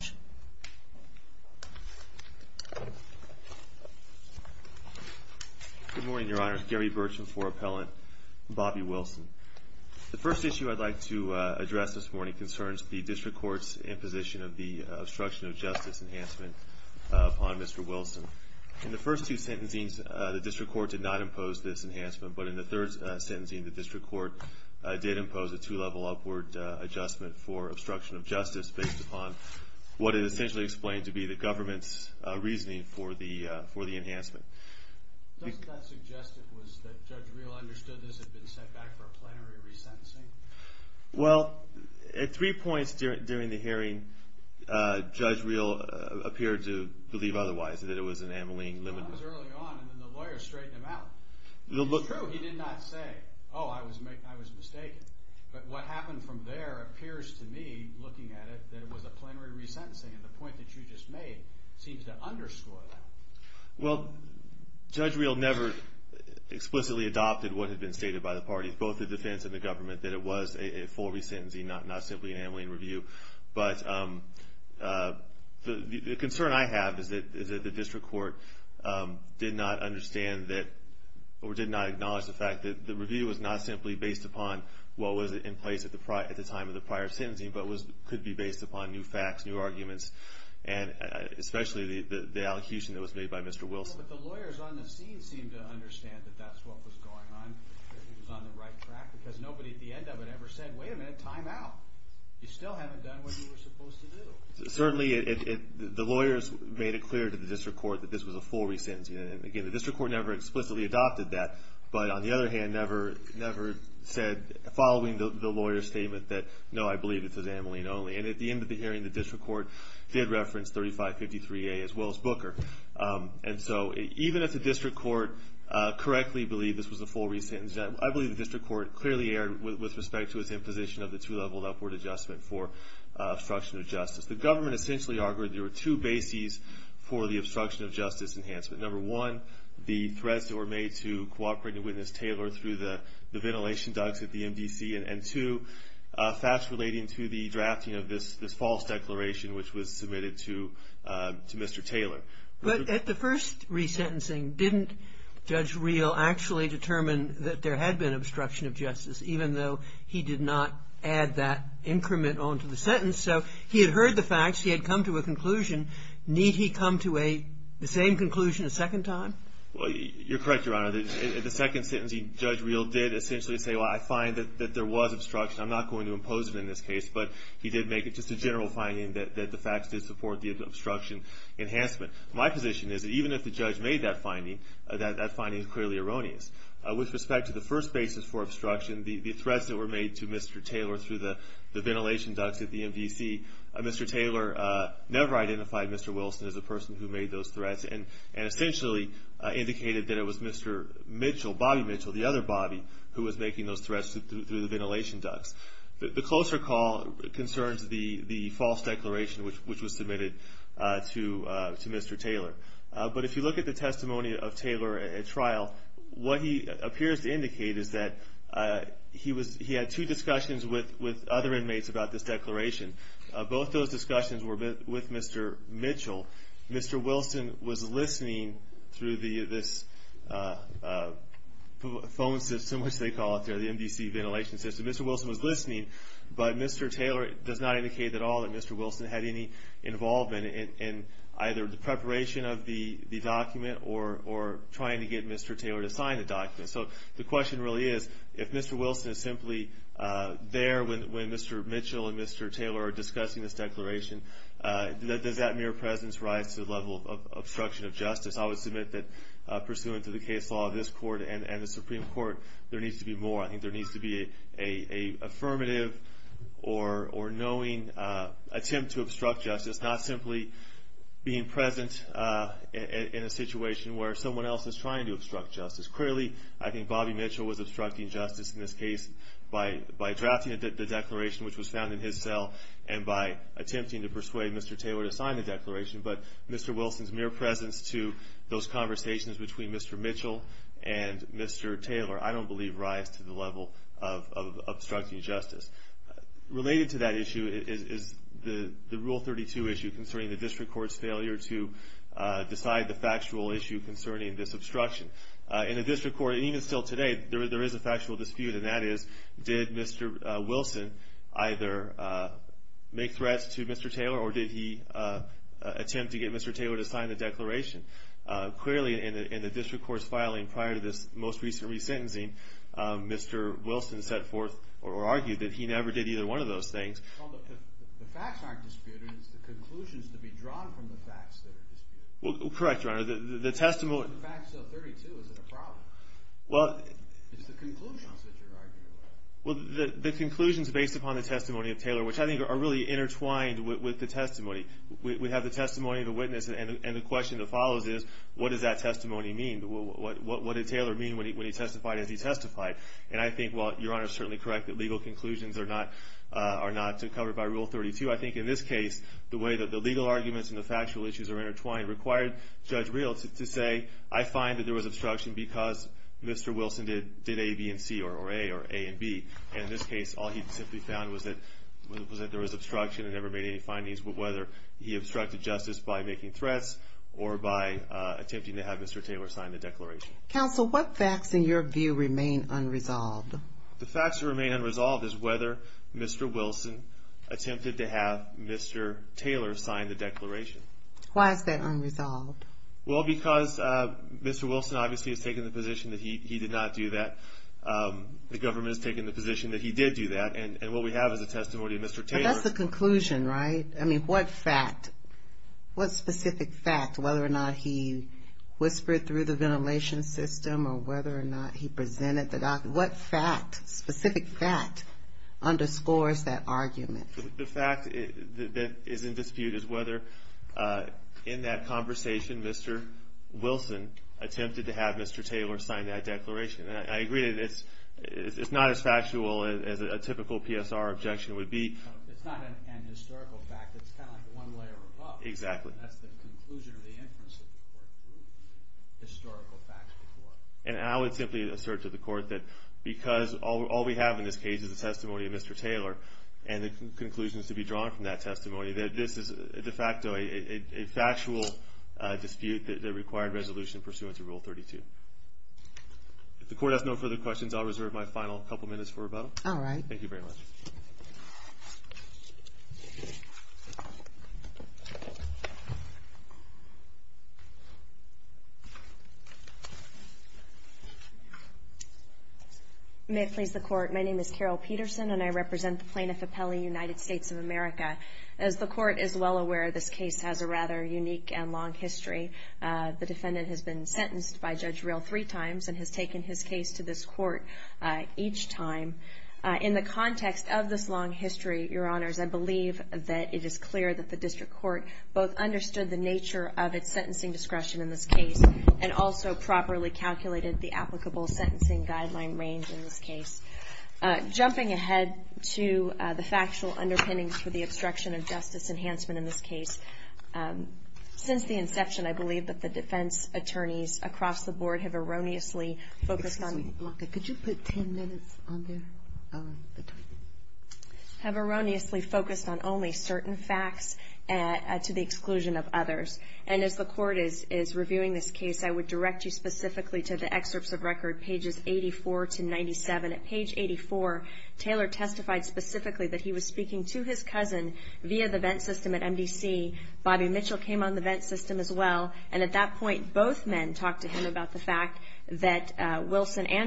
Good morning, Your Honor. It's Gary Burcham for Appellant Bobby Wilson. The first issue I'd like to address this morning concerns the District Court's imposition of the Obstruction of Justice Enhancement upon Mr. Wilson. In the first two sentencings, the District Court did not impose this enhancement, but in the third sentencing, the District Court did impose a two-level upward adjustment for obstruction of justice based upon what is essentially explained to be the government's reasoning for the enhancement. JUDGE REHL Doesn't that suggest it was that Judge Rehl understood this had been set back for a plenary re-sentencing? WILSON Well, at three points during the hearing, Judge Rehl appeared to believe otherwise, that it was an amyling limiter. JUDGE REHL Well, that was early on, and then the lawyers straightened him out. It's true, he did not say, oh, I was mistaken. But what happened from there appears to me, looking at it, that it was a plenary re-sentencing, and the point that you just made seems to underscore that. WILSON Well, Judge Rehl never explicitly adopted what had been stated by the parties, both the defense and the government, that it was a full re-sentencing, not simply an amyling review. But the concern I have is that the District Court did not understand that, or did not acknowledge the fact that the review was not simply based upon what was in place at the time of the prior sentencing, but could be based upon new facts, new arguments, and especially the allocution that was made by Mr. Wilson. JUDGE REHL But the lawyers on the scene seemed to understand that that's what was going on, that he was on the right track, because nobody at the end of it ever said, wait a minute, time out. You still haven't done what you were supposed to do. WILSON Certainly, the lawyers made it clear to the District Court that this was a full re-sentencing, and again, the District Court never explicitly adopted that. But the fact new arguments, and especially the allocation that was made by Mr. Wilson. But on the other hand, never said, following the lawyer's statement, that no, I believe it's amyling only. And at the end of the hearing, the District Court did reference 3553A, as well as Booker. And so, even if the District Court correctly believed this was a full re-sentencing, I believe the District Court clearly erred with respect to its imposition of the two-level upward adjustment for obstruction of justice. The government essentially argued there were two bases for the obstruction of justice enhancement. Number one, the threats that were made to cooperate with Ms. Taylor through the ventilation ducts at the MDC. And two, facts relating to the drafting of this false declaration, which was submitted to Mr. Taylor. KAGAN But at the first re-sentencing, didn't Judge Real actually determine that there had been obstruction of justice, even though he did not add that increment onto the sentence? So he had heard the facts. He had come to a conclusion. Need he come to the same conclusion a second time? Well, you're correct, Your Honor. The second sentencing, Judge Real did essentially say, well, I find that there was obstruction. I'm not going to impose it in this case. But he did make it just a general finding that the facts did support the obstruction enhancement. My position is that even if the judge made that finding, that finding is clearly erroneous. With respect to the first basis for obstruction, the threats that were made to Mr. Taylor through the ventilation ducts at the MDC, Mr. Taylor never identified Mr. Wilson as a person who indicated that it was Mr. Mitchell, Bobby Mitchell, the other Bobby, who was making those threats through the ventilation ducts. The closer call concerns the false declaration, which was submitted to Mr. Taylor. But if you look at the testimony of Taylor at trial, what he appears to indicate is that he had two discussions with other inmates about this declaration. Both those discussions were with Mr. Mitchell. Mr. Wilson was listening through this phone system, which they call it, the MDC ventilation system. Mr. Wilson was listening, but Mr. Taylor does not indicate at all that Mr. Wilson had any involvement in either the preparation of the document or trying to get Mr. Taylor to sign the document. So the question really is, if Mr. Wilson is simply there when Mr. Mitchell and Mr. Taylor are discussing this declaration, does that mere presence rise to the level of obstruction of justice? I would submit that pursuant to the case law of this court and the Supreme Court, there needs to be more. I think there needs to be an affirmative or knowing attempt to obstruct justice, not simply being present in a situation where someone else is trying to obstruct justice. Clearly, I think Bobby Mitchell was obstructing justice in this case by drafting the declaration, which was found in his cell, and by attempting to persuade Mr. Taylor to sign the declaration. But Mr. Wilson's mere presence to those conversations between Mr. Mitchell and Mr. Taylor, I don't believe, rise to the level of obstructing justice. Related to that issue is the Rule 32 issue concerning the district court's failure to decide the factual issue concerning this obstruction. In the district court, and even still today, there is a factual dispute, and that is, did Mr. Wilson either make threats to Mr. Taylor or did he attempt to get Mr. Taylor to sign the declaration? Clearly, in the district court's filing prior to this most recent resentencing, Mr. Wilson argued that he never did either one of those things. Well, the facts aren't disputed, it's the conclusions to be drawn from the facts that are disputed. Well, correct, Your Honor. The facts of 32, is it a problem? It's the conclusions that you're arguing about. The conclusions based upon the testimony of Taylor, which I think are really intertwined with the testimony. We have the testimony of the witness, and the question that follows is, what does that testimony mean? What did Taylor mean when he testified as he testified? And I think, well, Your Honor is certainly correct that legal conclusions are not covered by Rule 32. I think in this case, the way that the legal arguments and the factual issues are intertwined required Judge Real to say, I find that there was obstruction because Mr. Wilson did A, B, and C, or A, or A and B, and in this case, all he simply found was that there was obstruction and never made any findings, whether he obstructed justice by making threats or by attempting to have Mr. Taylor sign the declaration. Counsel, what facts in your view remain unresolved? The facts that remain unresolved is whether Mr. Wilson attempted to have Mr. Taylor sign the declaration. Why is that unresolved? Well, because Mr. Wilson obviously has taken the position that he did not do that. The government has taken the position that he did do that, and what we have is a testimony of Mr. Taylor. But that's the conclusion, right? I mean, what fact, what specific fact, whether or not he whispered through the ventilation system or whether or not he presented the document, what fact, specific fact, underscores that argument? The fact that is in dispute is whether in that conversation Mr. Wilson attempted to have Mr. Taylor sign that declaration. And I agree that it's not as factual as a typical PSR objection would be. It's not an historical fact. It's kind of like the one layer above. Exactly. And that's the conclusion or the inference that the court drew, historical facts before. And I would simply assert to the court that because all we have in this case is a testimony of Mr. Taylor and the conclusions to be drawn from that testimony, that this is de facto a factual dispute that required resolution pursuant to Rule 32. If the court has no further questions, I'll reserve my final couple minutes for rebuttal. All right. Thank you very much. May it please the Court, my name is Carol Peterson and I represent the Plaintiff Appellee, United States of America. As the Court is well aware, this case has a rather unique and long history. The defendant has been sentenced by Judge Real three times and has taken his the context of this long history, Your Honors, I believe that it is clear that the District Court both understood the nature of its sentencing discretion in this case and also properly calculated the applicable sentencing guideline range in this case. Jumping ahead to the factual underpinnings for the obstruction of justice enhancement in this case, since the inception I believe that the defense attorneys across the board have erroneously focused on I have erroneously focused on only certain facts to the exclusion of others. And as the Court is reviewing this case, I would direct you specifically to the excerpts of record pages 84 to 97. At page 84, Taylor testified specifically that he was speaking to his cousin via the Venn system at MDC. Bobby Mitchell came on the Venn system as well, and at that point, Bobby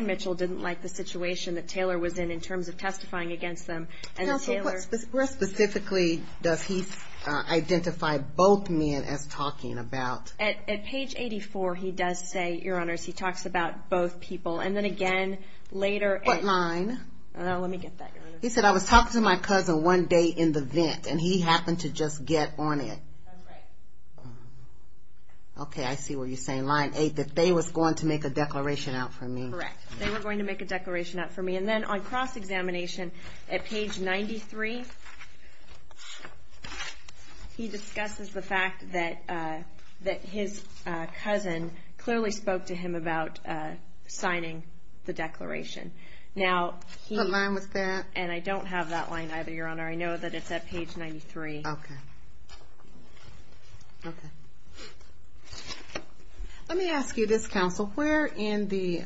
Mitchell didn't like the situation that Taylor was in, in terms of testifying against him. Counsel, where specifically does he identify both men as talking about? At page 84, he does say, Your Honors, he talks about both people. And then again, later at What line? Let me get that, Your Honor. He said, I was talking to my cousin one day in the Venn, and he happened to just get on it. That's right. Okay, I see what you're saying. Line 8, that they was going to make a declaration out for him. Correct. They were going to make a declaration out for me. And then on cross-examination, at page 93, he discusses the fact that his cousin clearly spoke to him about signing the declaration. Now, he What line was that? And I don't have that line either, Your Honor. I know that it's at page 93. Okay. Okay. Let me ask you this, Counsel. Where in the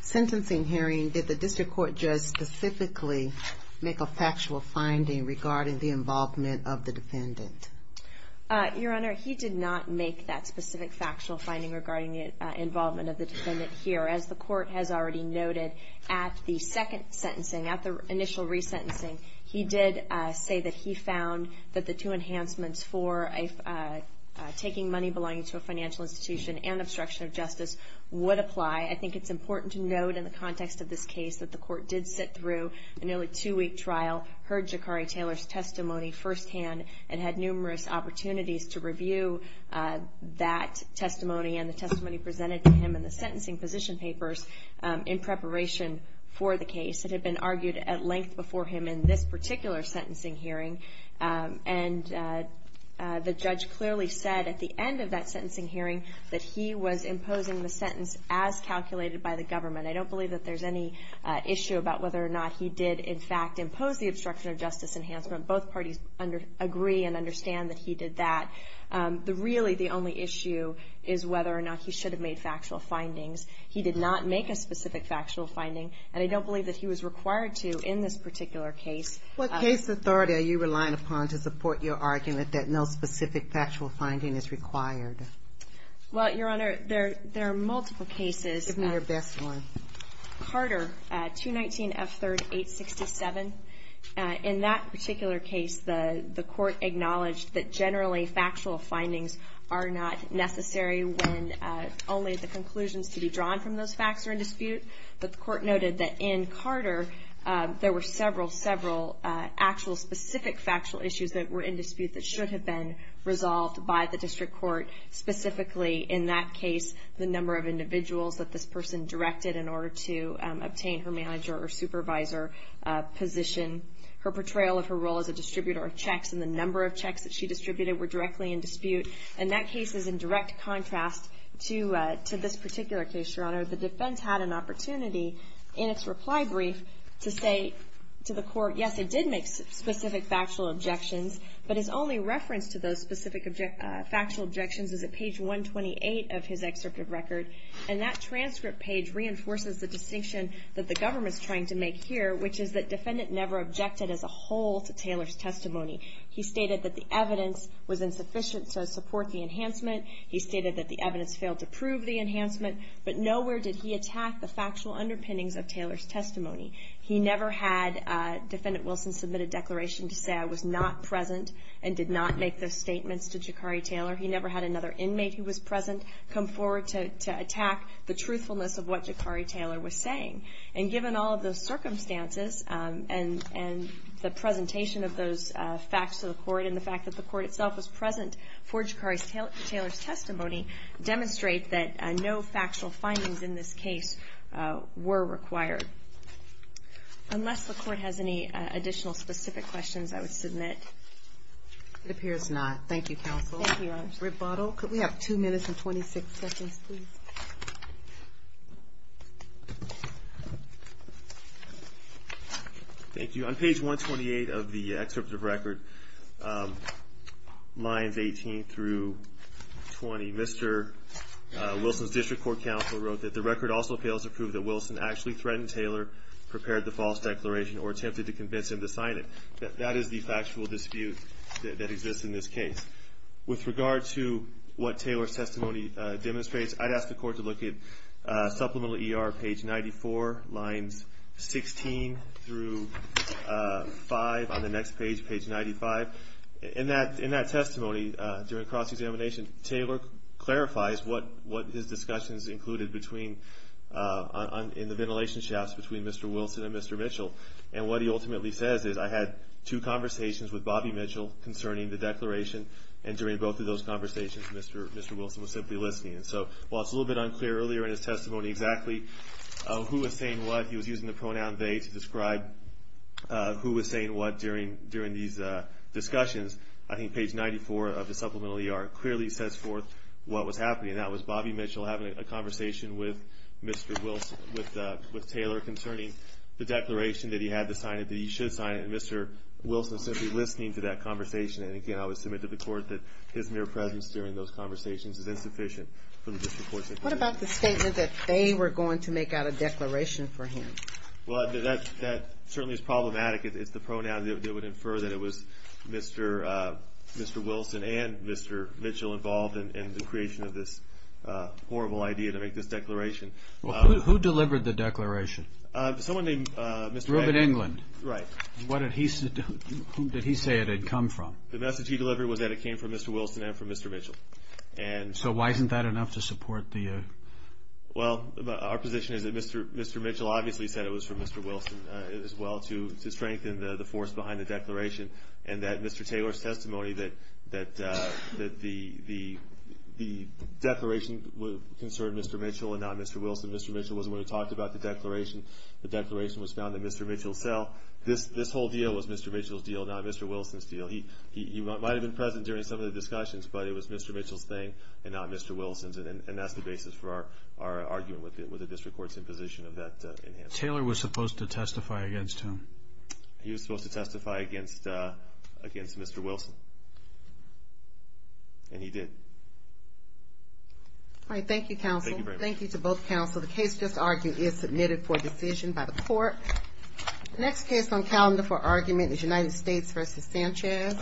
sentencing hearing did the district court judge specifically make a factual finding regarding the involvement of the defendant? Your Honor, he did not make that specific factual finding regarding the involvement of the defendant here. As the court has already noted, at the second sentencing, at the initial re-sentencing, he did say that he found that the two enhancements for taking money belonging to a financial institution and obstruction of justice would apply. I think it's important to note in the context of this case that the court did sit through a nearly two-week trial, heard Jakari Taylor's testimony firsthand, and had numerous opportunities to review that testimony and the testimony presented to him in the sentencing position papers in preparation for the case that had been argued at length before him in this particular sentencing hearing. And the judge clearly said at the end of that sentencing hearing that he was imposing the sentence as calculated by the government. I don't believe that there's any issue about whether or not he did in fact impose the obstruction of justice enhancement. Both parties agree and understand that he did that. Really, the only issue is whether or not he should have made factual findings. He did not make a specific factual finding, and I don't believe that he was required to in this particular case. What case authority are you relying upon to support your argument that no specific factual finding is required? Well, Your Honor, there are multiple cases. Give me your best one. Carter, 219 F. 3rd, 867. In that particular case, the court acknowledged that generally the conclusions to be drawn from those facts are in dispute, but the court noted that in Carter, there were several, several actual specific factual issues that were in dispute that should have been resolved by the district court, specifically in that case, the number of individuals that this person directed in order to obtain her manager or supervisor position, her portrayal of her role as a distributor of checks, and the number of checks that she had. In this particular case, Your Honor, the defense had an opportunity in its reply brief to say to the court, yes, it did make specific factual objections, but his only reference to those specific factual objections is at page 128 of his excerpt of record, and that transcript page reinforces the distinction that the government's trying to make here, which is that defendant never objected as a whole to Taylor's testimony. He stated that the evidence was insufficient to support the enhancement. He stated that the evidence failed to prove the enhancement, but nowhere did he attack the factual underpinnings of Taylor's testimony. He never had Defendant Wilson submit a declaration to say I was not present and did not make those statements to Jakari Taylor. He never had another inmate who was present come forward to attack the truthfulness of what Jakari Taylor was saying. And given all of those circumstances and the presentation of those facts to the court and the fact that the court itself was present for Jakari Taylor's testimony demonstrate that no factual findings in this case were required. Unless the court has any additional specific questions, I would submit. It appears not. Thank you, counsel. Thank you, Your Honor. Rebuttal? Could we have two minutes and 26 seconds, please? Thank you. On page 128 of the excerpt of record, lines 18 through 20, Mr. Wilson's District Court counsel wrote that the record also fails to prove that Wilson actually threatened Taylor, prepared the false declaration, or attempted to convince him to sign it. That is the factual dispute that exists in this case. With regard to what Taylor's testimony demonstrates, I'd ask the court to look at Supplemental ER, page 94, lines 16 through 5, on the next page, page 95. In that testimony, during cross-examination, Taylor clarifies what his discussions included in the ventilation shafts between Mr. Wilson and Mr. Mitchell. And what he ultimately says is, I had two conversations with Bobby Mitchell concerning the declaration, and during both of those conversations, Mr. Wilson was simply listening. And so, while it's a little bit unclear earlier in his testimony exactly who was saying what, he was using the pronoun they to describe who was saying what during these discussions, I think page 94 of the Supplemental ER clearly sets forth what was happening. And that was Bobby Mitchell having a conversation with Taylor concerning the declaration that he had to sign it, that he should sign it, and Mr. Wilson simply listening to that conversation. And again, I would submit to the court that his mere presence during those conversations is insufficient for the disproportionate position. What about the statement that they were going to make out a declaration for him? Well, that certainly is problematic. It's the pronoun that would infer that it was Mr. Wilson and Mr. Mitchell involved in the creation of this horrible idea to make this declaration. Well, who delivered the declaration? Someone named Mr. Englund. Reuben Englund. Right. Who did he say it had come from? The message he delivered was that it came from Mr. Wilson and from Mr. Mitchell. So, why isn't that enough to support the... Well, our position is that Mr. Mitchell obviously said it was from Mr. Wilson as well to strengthen the force behind the declaration, and that Mr. Taylor's testimony that the declaration concerned Mr. Mitchell and not Mr. Wilson. Mr. Mitchell wasn't the one who talked about the declaration. The declaration was found in Mr. Mitchell's cell. This whole deal was Mr. Mitchell's deal, not Mr. Wilson's deal. He might have been present during some of the discussions, but it was Mr. Mitchell's thing and not Mr. Wilson's, and that's the basis for our argument with the district court's imposition of that enhancement. Taylor was supposed to testify against him. He was supposed to testify against Mr. Wilson, and he did. All right. Thank you, counsel. Thank you very much. Thank you, counsel. The case just argued is submitted for decision by the court. The next case on calendar for argument is United States v. Sanchez.